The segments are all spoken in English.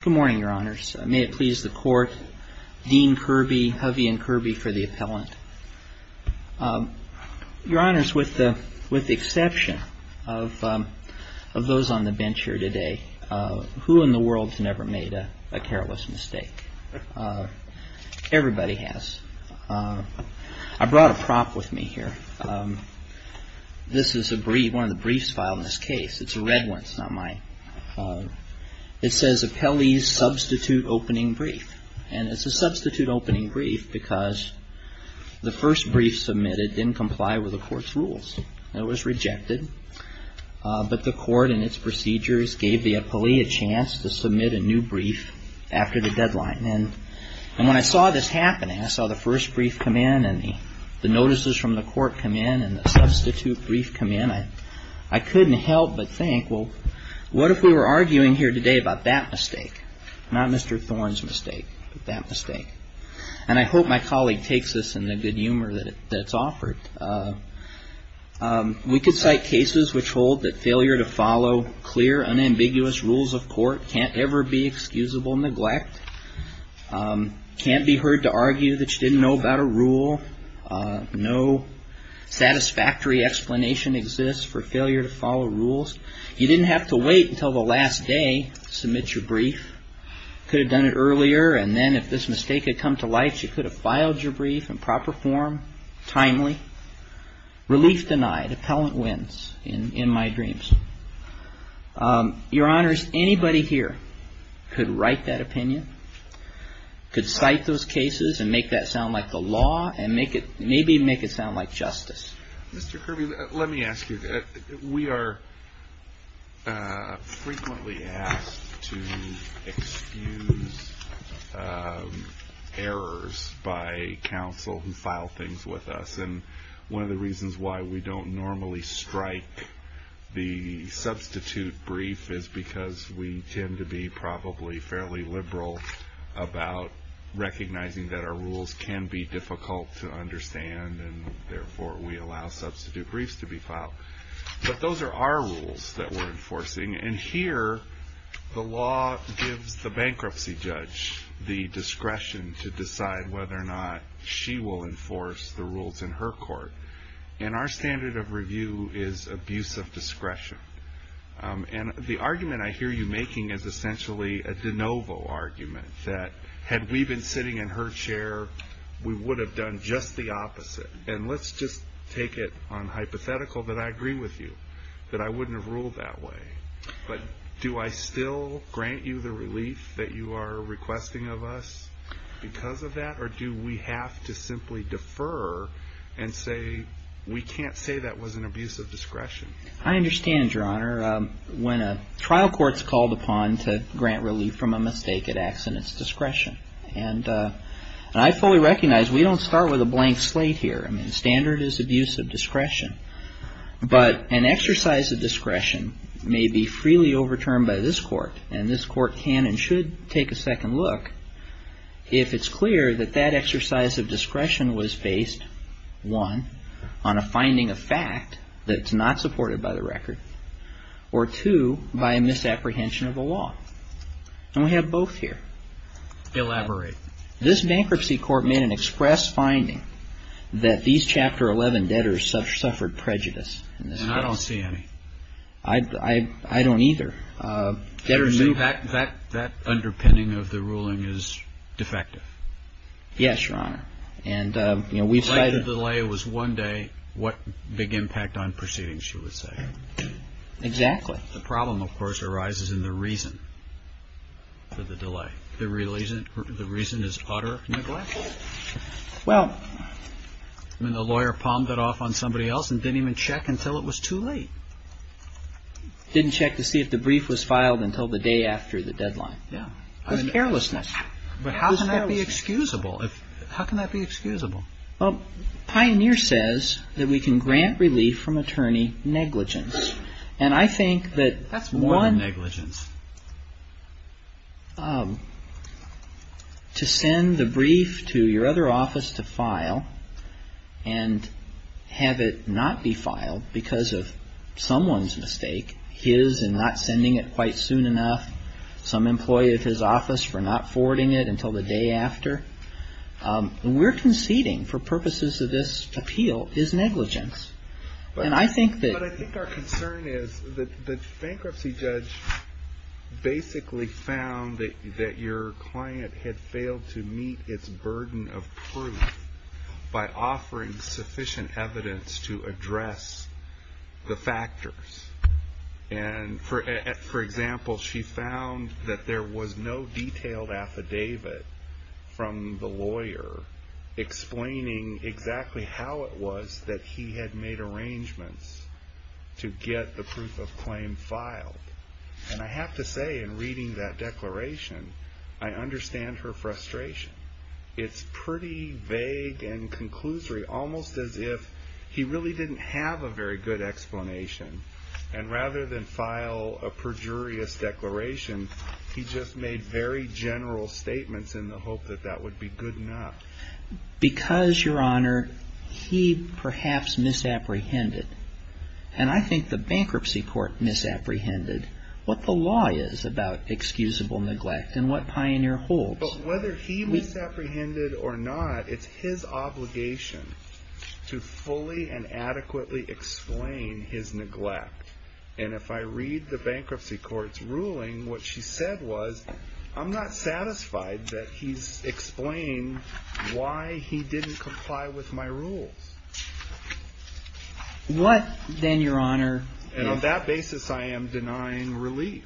Good morning, your honors. May it please the court, Dean Kirby, Hovey and Kirby for the appellant. Your honors, with the exception of those on the bench here today, who in the world has never made a careless mistake? Everybody has. I brought a prop with me here. This is one of the briefs filed in this case. It's a red one. It's not mine. It says, Appellee's Substitute Opening Brief. And it's a substitute opening brief because the first brief submitted didn't comply with the court's rules. It was rejected. But the court and its procedures gave the appellee a chance to submit a new brief after the deadline. And when I saw this happening, I saw the first brief come in and the notices from the court come in and the substitute brief come in, and I couldn't help but think, well, what if we were arguing here today about that mistake, not Mr. Thorne's mistake, but that mistake? And I hope my colleague takes this in the good humor that it's offered. We could cite cases which hold that failure to follow clear, unambiguous rules of court can't ever be excusable neglect, can't be heard to argue that you didn't know about a rule, no satisfactory explanation exists for failure to follow rules. You didn't have to wait until the last day to submit your brief. Could have done it earlier, and then if this mistake had come to light, you could have filed your brief in proper form, timely. Relief denied. Appellant wins, in my dreams. Your Honors, anybody here could write that opinion, could cite those cases and make that sound like the law, and maybe make it sound like justice. Mr. Kirby, let me ask you, we are frequently asked to excuse errors by counsel who file things with us, and one of the reasons why we don't normally strike the substitute brief is because we tend to be probably fairly liberal about recognizing that our rules can be difficult to understand, and therefore we allow substitute briefs to be filed. But those are our rules that we're enforcing, and here the law gives the bankruptcy judge the discretion to decide whether or not she will enforce the rules in her court. And our standard of review is abuse of discretion. And the argument I hear you making is essentially a de novo argument that had we been sitting in her chair, we would have done just the opposite. And let's just take it on hypothetical that I agree with you, that I wouldn't have ruled that way. But do I still grant you the relief that you are requesting of us because of that, or do we have to simply defer and say we can't say that was an abuse of discretion? I understand, Your Honor. When a trial court's called upon to grant relief from a mistake, it acts in its discretion. And I fully recognize we don't start with a blank slate here. Standard is abuse of discretion. But an exercise of discretion may be freely overturned by this court, and this court can and should take a second look if it's clear that that exercise of discretion was based, one, on a finding of fact that's not supported by the record, or two, by a misapprehension of the law. And we have both here. Elaborate. This bankruptcy court made an express finding that these Chapter 11 debtors suffered prejudice in this case. And I don't see any. I don't either. That underpinning of the ruling is defective. Yes, Your Honor. And, you know, we've said it. If the delay was one day, what big impact on proceedings, you would say? Exactly. The problem, of course, arises in the reason for the delay. The reason is utter neglect? Well. I mean, the lawyer palmed it off on somebody else and didn't even check until it was too late. Didn't check to see if the brief was filed until the day after the deadline. Yeah. There's carelessness. But how can that be excusable? How can that be excusable? Well, Pioneer says that we can grant relief from attorney negligence. And I think that one. That's more than negligence. To send the brief to your other office to file and have it not be filed because of someone's mistake, his in not sending it quite soon enough, some employee of his office for not forwarding it until the day after. We're conceding, for purposes of this appeal, is negligence. But I think our concern is that the bankruptcy judge basically found that your client had failed to meet its burden of proof by offering sufficient evidence to address the factors. And, for example, she found that there was no detailed affidavit from the lawyer explaining exactly how it was that he had made arrangements to get the proof of claim filed. And I have to say, in reading that declaration, I understand her frustration. It's pretty vague and conclusory, almost as if he really didn't have a very good explanation. And rather than file a perjurious declaration, he just made very general statements in the hope that that would be good enough. Because, Your Honor, he perhaps misapprehended. And I think the bankruptcy court misapprehended what the law is about excusable neglect and what Pioneer holds. But whether he misapprehended or not, it's his obligation to fully and adequately explain his neglect. And if I read the bankruptcy court's ruling, what she said was, I'm not satisfied that he's explained why he didn't comply with my rules. What, then, Your Honor... And on that basis, I am denying relief.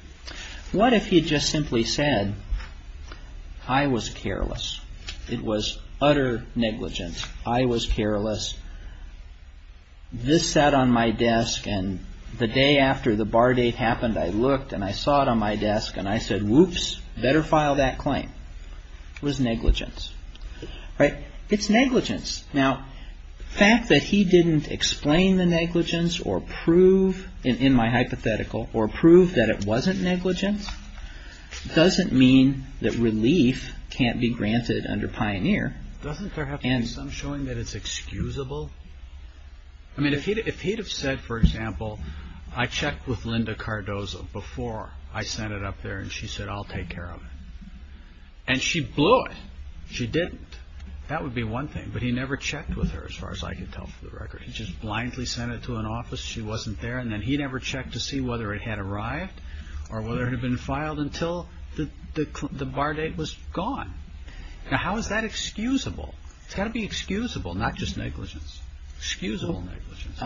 What if he just simply said, I was careless. It was utter negligence. I was careless. This sat on my desk and the day after the bar date happened, I looked and I saw it on my desk and I said, Whoops, better file that claim. It was negligence. It's negligence. Now, the fact that he didn't explain the negligence or prove, in my hypothetical, or prove that it wasn't negligence, doesn't mean that relief can't be granted under Pioneer. Doesn't there have to be some showing that it's excusable? I mean, if he'd have said, for example, I checked with Linda Cardozo before I sent it up there and she said, I'll take care of it. And she blew it. She didn't. That would be one thing. But he never checked with her, as far as I can tell for the record. He just blindly sent it to an office, she wasn't there, and then he never checked to see whether it had arrived or whether it had been filed until the bar date was gone. Now, how is that excusable? It's got to be excusable, not just negligence. Excusable negligence.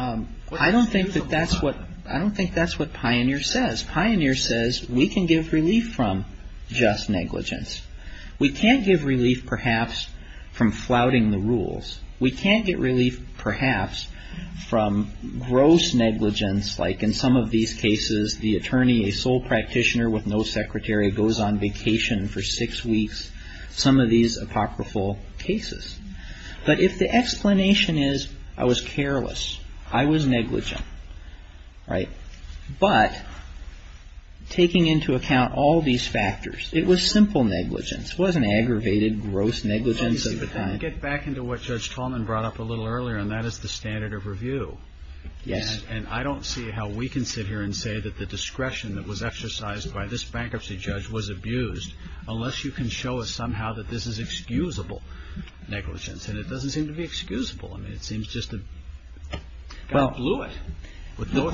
I don't think that's what Pioneer says. Pioneer says we can give relief from just negligence. We can't give relief, perhaps, from flouting the rules. We can't get relief, perhaps, from gross negligence, like in some of these cases, the attorney, a sole practitioner with no secretary, goes on vacation for six weeks. Some of these apocryphal cases. But if the explanation is, I was careless, I was negligent, right? But, taking into account all these factors, it was simple negligence. It wasn't aggravated, gross negligence of the kind. Let's get back into what Judge Tallman brought up a little earlier, and that is the standard of review. Yes. And I don't see how we can sit here and say that the discretion that was exercised by this bankruptcy judge was abused, unless you can show us somehow that this is excusable negligence. And it doesn't seem to be excusable. Well, the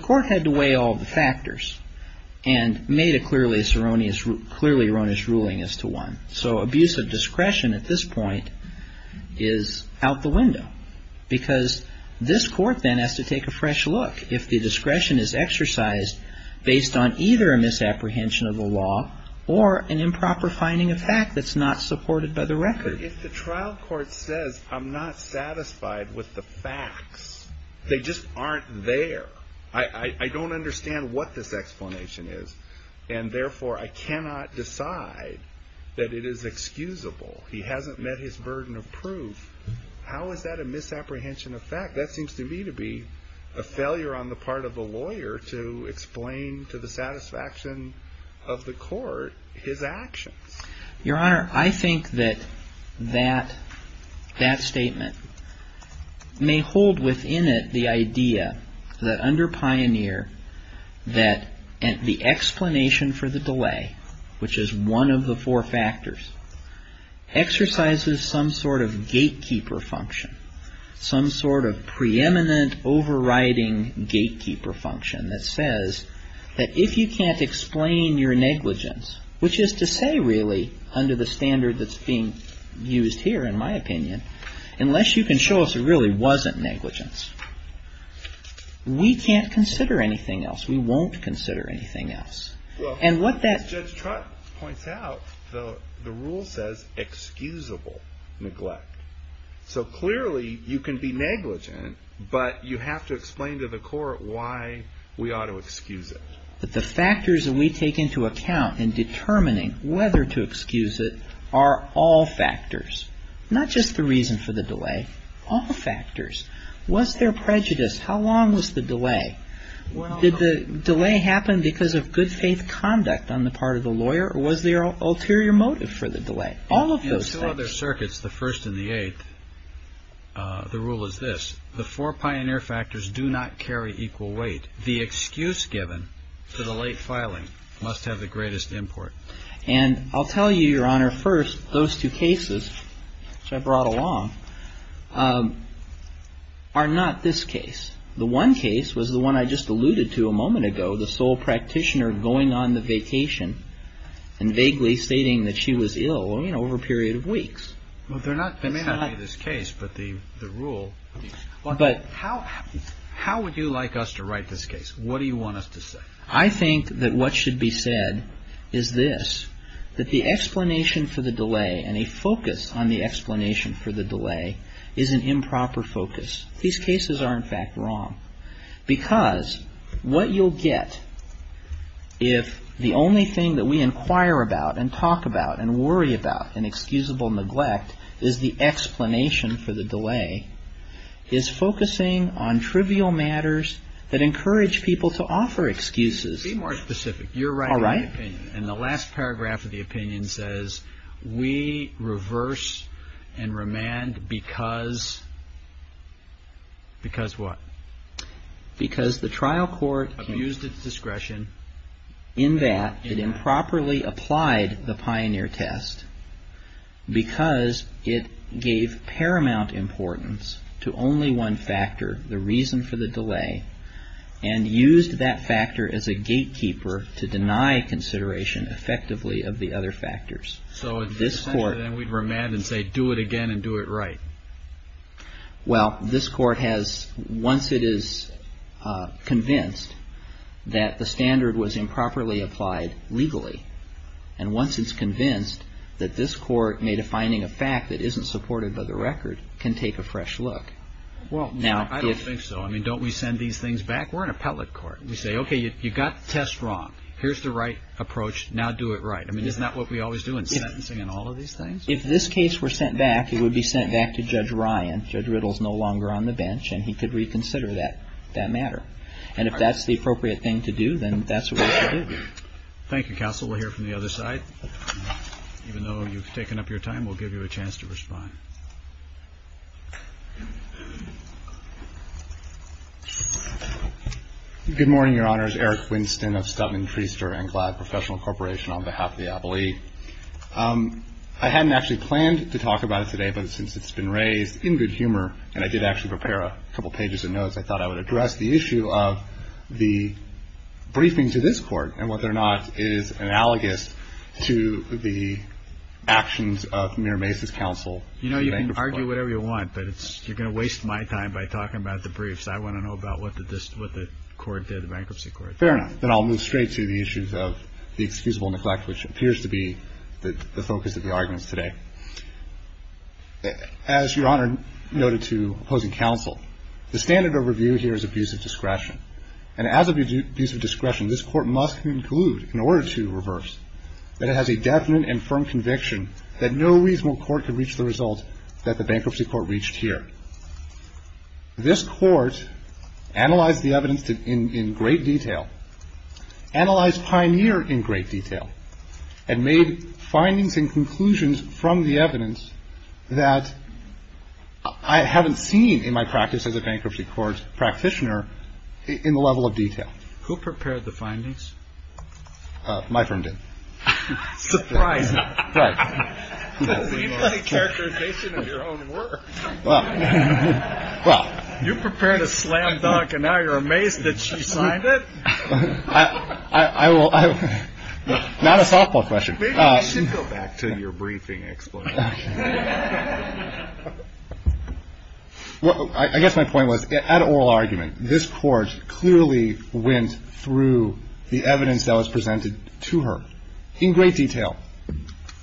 court had to weigh all the factors and made a clearly erroneous ruling as to one. So abuse of discretion at this point is out the window. Because this court then has to take a fresh look. If the discretion is exercised based on either a misapprehension of the law or an improper finding of fact that's not supported by the record. Your Honor, if the trial court says I'm not satisfied with the facts, they just aren't there. I don't understand what this explanation is, and therefore I cannot decide that it is excusable. He hasn't met his burden of proof. How is that a misapprehension of fact? That seems to me to be a failure on the part of the lawyer to explain to the satisfaction of the court his actions. Your Honor, I think that that statement may hold within it the idea that under Pioneer that the explanation for the delay, which is one of the four factors, exercises some sort of gatekeeper function, some sort of preeminent overriding gatekeeper function that says that if you can't explain your negligence, which is to say really under the standard that's being used here in my opinion, unless you can show us it really wasn't negligence, we can't consider anything else. We won't consider anything else. As Judge Trott points out, the rule says excusable neglect. So clearly you can be negligent, but you have to explain to the court why we ought to excuse it. But the factors that we take into account in determining whether to excuse it are all factors, not just the reason for the delay, all factors. Was there prejudice? How long was the delay? Did the delay happen because of good faith conduct on the part of the lawyer or was there an ulterior motive for the delay? All of those things. In two other circuits, the first and the eighth, the rule is this. The four pioneer factors do not carry equal weight. The excuse given for the late filing must have the greatest import. And I'll tell you, Your Honor, first, those two cases which I brought along are not this case. The one case was the one I just alluded to a moment ago, the sole practitioner going on the vacation and vaguely stating that she was ill over a period of weeks. They may not be this case, but the rule. But how would you like us to write this case? What do you want us to say? I think that what should be said is this, that the explanation for the delay and a focus on the explanation for the delay is an improper focus. These cases are, in fact, wrong. Because what you'll get if the only thing that we inquire about and talk about and worry about in excusable neglect is the explanation for the delay is focusing on trivial matters that encourage people to offer excuses. Be more specific. You're writing the opinion. All right. And the last paragraph of the opinion says we reverse and remand because. Because what? Because the trial court used its discretion in that it improperly applied the pioneer test because it gave paramount importance to only one factor, the reason for the delay, and used that factor as a gatekeeper to deny consideration effectively of the other factors. So this court. Then we'd remand and say do it again and do it right. Well, this court has, once it is convinced that the standard was improperly applied legally, and once it's convinced that this court made a finding of fact that isn't supported by the record, can take a fresh look. Well, I don't think so. I mean, don't we send these things back? We're an appellate court. We say, okay, you got the test wrong. Here's the right approach. Now do it right. I mean, isn't that what we always do in sentencing and all of these things? If this case were sent back, it would be sent back to Judge Ryan. Judge Riddle is no longer on the bench, and he could reconsider that matter. And if that's the appropriate thing to do, then that's what we should do. Thank you, counsel. We'll hear from the other side. Even though you've taken up your time, we'll give you a chance to respond. Good morning, Your Honors. Eric Winston of Stutman, Treaster & Gladd Professional Corporation on behalf of the appellee. I hadn't actually planned to talk about it today, but since it's been raised in good humor and I did actually prepare a couple pages of notes, I thought I would address the issue of the briefing to this court and whether or not it is analogous to the actions of Mayor Mace's counsel. You know, you can argue whatever you want, but you're going to waste my time by talking about the briefs. I want to know about what the court did, the bankruptcy court. Fair enough. Then I'll move straight to the issues of the excusable neglect, which appears to be the focus of the arguments today. As Your Honor noted to opposing counsel, the standard of review here is abuse of discretion. And as abuse of discretion, this court must conclude, in order to reverse, that it has a definite and firm conviction that no reasonable court could reach the result that the bankruptcy court reached here. This court analyzed the evidence in great detail, analyzed Pioneer in great detail, and made findings and conclusions from the evidence that I haven't seen in my practice as a bankruptcy court practitioner in the level of detail. Who prepared the findings? My firm did. Surprise. Right. Leave the characterization of your own work. You prepared a slam dunk and now you're amazed that she signed it? I will. Not a softball question. Maybe you should go back to your briefing explanation. I guess my point was, at oral argument, this court clearly went through the evidence that was presented to her in great detail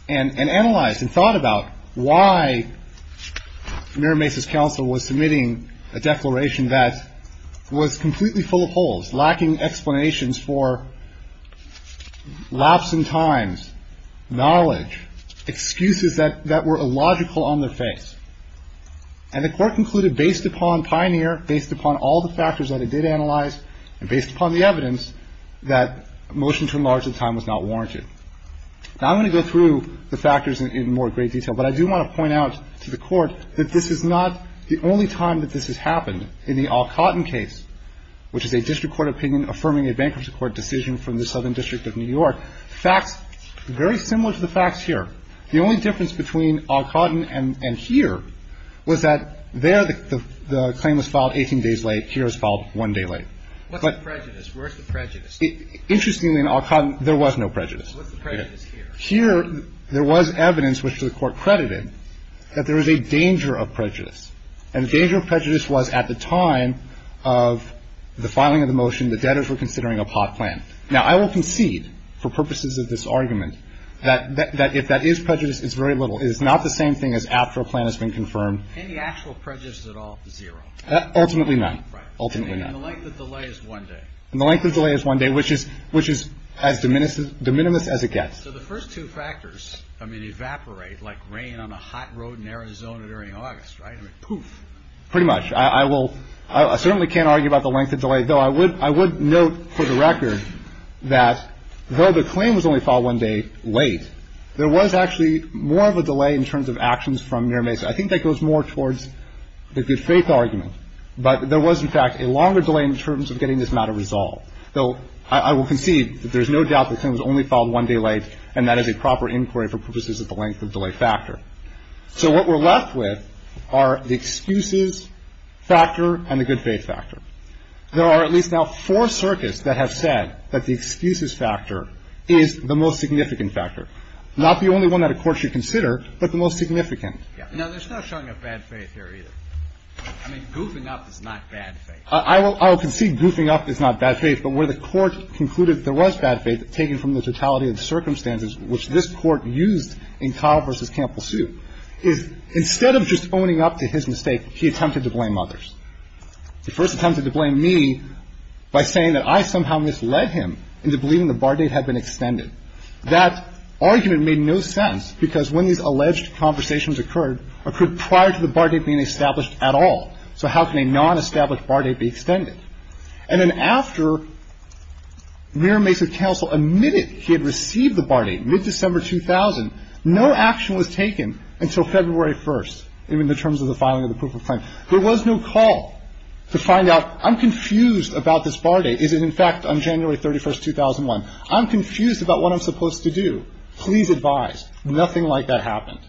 and analyzed and thought about why Mira Mesa's counsel was submitting a declaration that was completely full of holes, lacking explanations for lapsing times, knowledge, excuses that were illogical on their face. And the court concluded, based upon Pioneer, based upon all the factors that it did analyze, and based upon the evidence, that a motion to enlarge the time was not warranted. Now, I'm going to go through the factors in more great detail, but I do want to point out to the court that this is not the only time that this has happened. In the Alcotton case, which is a district court opinion affirming a bankruptcy court decision from the Southern District of New York, facts very similar to the facts here. The only difference between Alcotton and here was that there the claim was filed 18 days late. Here it was filed one day late. What's the prejudice? Where's the prejudice? Interestingly, in Alcotton, there was no prejudice. What's the prejudice here? Here, there was evidence, which the court credited, that there is a danger of prejudice. And the danger of prejudice was at the time of the filing of the motion, the debtors were considering a pot plan. Now, I will concede, for purposes of this argument, that if that is prejudice, it's very little. It is not the same thing as after a plan has been confirmed. Can the actual prejudice at all be zero? Ultimately not. Right. Ultimately not. And the length of delay is one day. And the length of delay is one day, which is as de minimis as it gets. So the first two factors, I mean, evaporate like rain on a hot road in Arizona during August, right? I mean, poof. Pretty much. I will ‑‑ I certainly can't argue about the length of delay, though I would note, for the record, that though the claim was only filed one day late, there was actually more of a delay in terms of actions from NIRMASA. I think that goes more towards the good faith argument. But there was, in fact, a longer delay in terms of getting this matter resolved. Though I will concede that there's no doubt the claim was only filed one day late, and that is a proper inquiry for purposes of the length of delay factor. So what we're left with are the excuses factor and the good faith factor. There are at least now four circuits that have said that the excuses factor is the most significant factor. Not the only one that a court should consider, but the most significant. Now, there's no showing of bad faith here either. I mean, goofing up is not bad faith. I will concede goofing up is not bad faith, but where the court concluded there was bad faith taken from the totality of the circumstances which this Court used in Kyle v. Campbell Sue is instead of just owning up to his mistake, he attempted to blame others. He first attempted to blame me by saying that I somehow misled him into believing the bar date had been extended. That argument made no sense because when these alleged conversations occurred, occurred prior to the bar date being established at all. So how can a non-established bar date be extended? And then after Mayor Mace of Council admitted he had received the bar date, mid-December 2000, no action was taken until February 1st, even in terms of the filing of the proof of claim. There was no call to find out I'm confused about this bar date. Is it in fact on January 31st, 2001? I'm confused about what I'm supposed to do. Please advise. Nothing like that happened.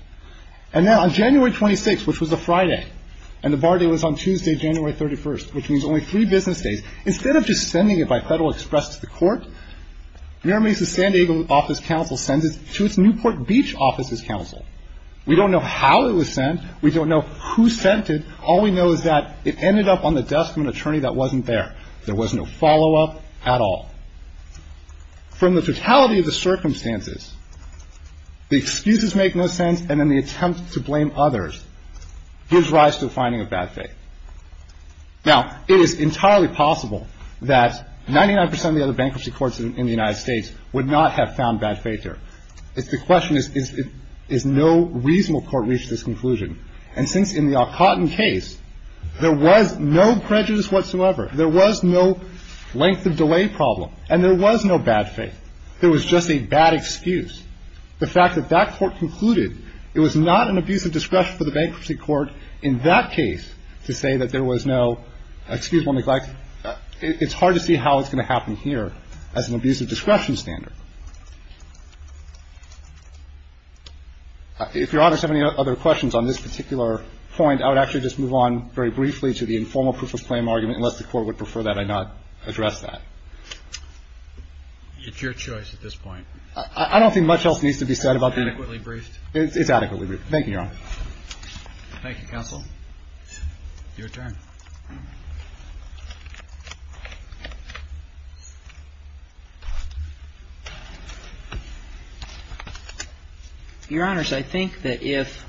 And now on January 26th, which was a Friday, and the bar date was on Tuesday, January 31st, which means only three business days, instead of just sending it by Federal Express to the Court, Mayor Mace's San Diego office council sends it to its Newport Beach offices council. We don't know how it was sent. We don't know who sent it. All we know is that it ended up on the desk of an attorney that wasn't there. There was no follow-up at all. From the totality of the circumstances, the excuses make no sense, and then the attempt to blame others gives rise to the finding of bad faith. Now, it is entirely possible that 99 percent of the other bankruptcy courts in the United States would not have found bad faith there. The question is, is no reasonable court reach this conclusion? And since in the Alcotton case, there was no prejudice whatsoever, there was no length of delay problem, and there was no bad faith. There was just a bad excuse. The fact that that court concluded it was not an abuse of discretion for the bankruptcy court in that case to say that there was no excusable neglect, it's hard to see how it's going to happen here as an abuse of discretion standard. If Your Honor has any other questions on this particular point, I would actually just move on very briefly to the informal proof of claim argument, unless the Court would prefer that I not address that. It's your choice at this point. I don't think much else needs to be said about the other. It's adequately briefed. It's adequately briefed. Thank you, Your Honor. Thank you, Counsel. Your turn. Your Honors, I think that if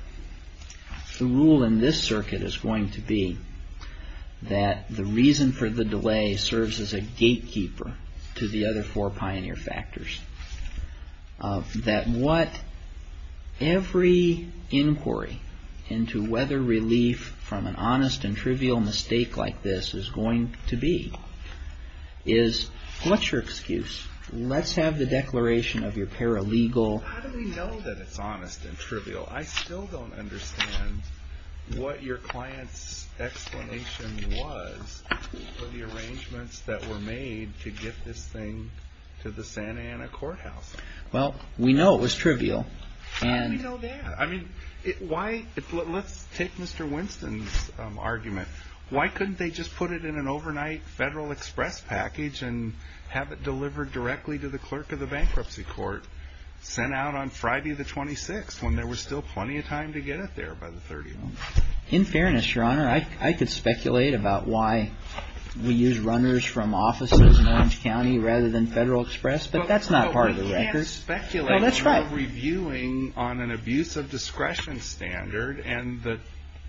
the rule in this circuit is going to be that the reason for the delay serves as a gatekeeper to the other four pioneer factors, that what every inquiry into whether relief from an honest and trivial mistake like this is going to be, is what's your excuse? Let's have the declaration of your paralegal. How do we know that it's honest and trivial? I still don't understand what your client's explanation was for the arrangements that were made to get this thing to the Santa Ana Courthouse. Well, we know it was trivial. How do we know that? I mean, let's take Mr. Winston's argument. Why couldn't they just put it in an overnight Federal Express package and have it delivered directly to the clerk of the bankruptcy court, sent out on Friday the 26th when there was still plenty of time to get it there by the 30th? In fairness, Your Honor, I could speculate about why we use runners from offices in Orange County rather than Federal Express, but that's not part of the record. But we can't speculate. No, that's right. We're reviewing on an abuse of discretion standard, and the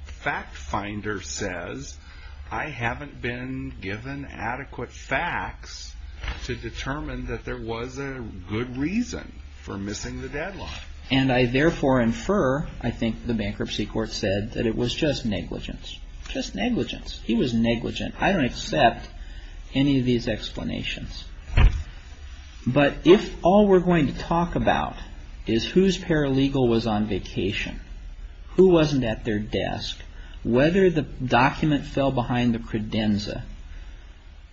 fact finder says I haven't been given adequate facts to determine that there was a good reason for missing the deadline. And I therefore infer, I think the bankruptcy court said, that it was just negligence. Just negligence. He was negligent. I don't accept any of these explanations. But if all we're going to talk about is whose paralegal was on vacation, who wasn't at their desk, whether the document fell behind the credenza,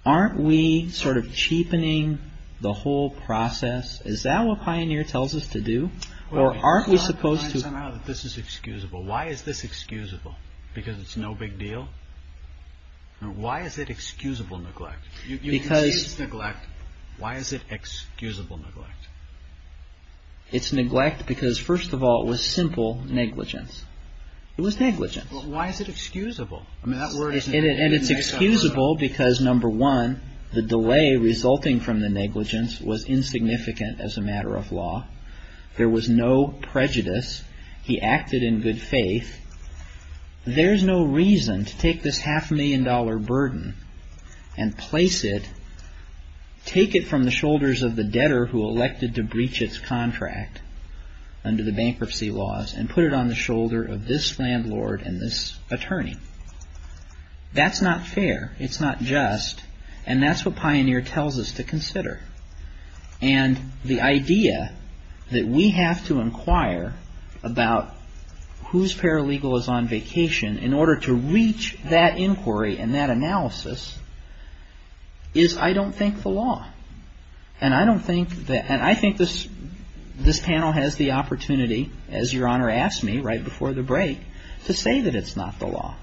aren't we sort of cheapening the whole process? Is that what Pioneer tells us to do? Why is this excusable? Why is this excusable? Because it's no big deal? Why is it excusable neglect? You can say it's neglect. Why is it excusable neglect? It's neglect because, first of all, it was simple negligence. It was negligence. Why is it excusable? And it's excusable because, number one, the delay resulting from the negligence was insignificant as a matter of law. There was no prejudice. He acted in good faith. There's no reason to take this half-million-dollar burden and place it, take it from the shoulders of the debtor who elected to breach its contract under the bankruptcy laws and put it on the shoulder of this landlord and this attorney. That's not fair. It's not just. And that's what Pioneer tells us to consider. And the idea that we have to inquire about whose paralegal is on vacation in order to reach that inquiry and that analysis is, I don't think, the law. And I don't think that, and I think this panel has the opportunity, as Your Honor asked me right before the break, to say that it's not the law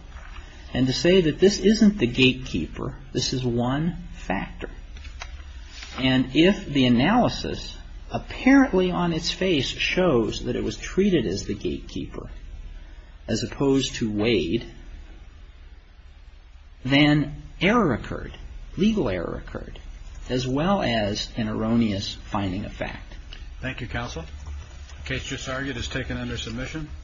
and to say that this isn't the gatekeeper. This is one factor. And if the analysis, apparently on its face, shows that it was treated as the gatekeeper as opposed to Wade, then error occurred, legal error occurred, as well as an erroneous finding of fact. Thank you, counsel. The case just argued is taken under submission.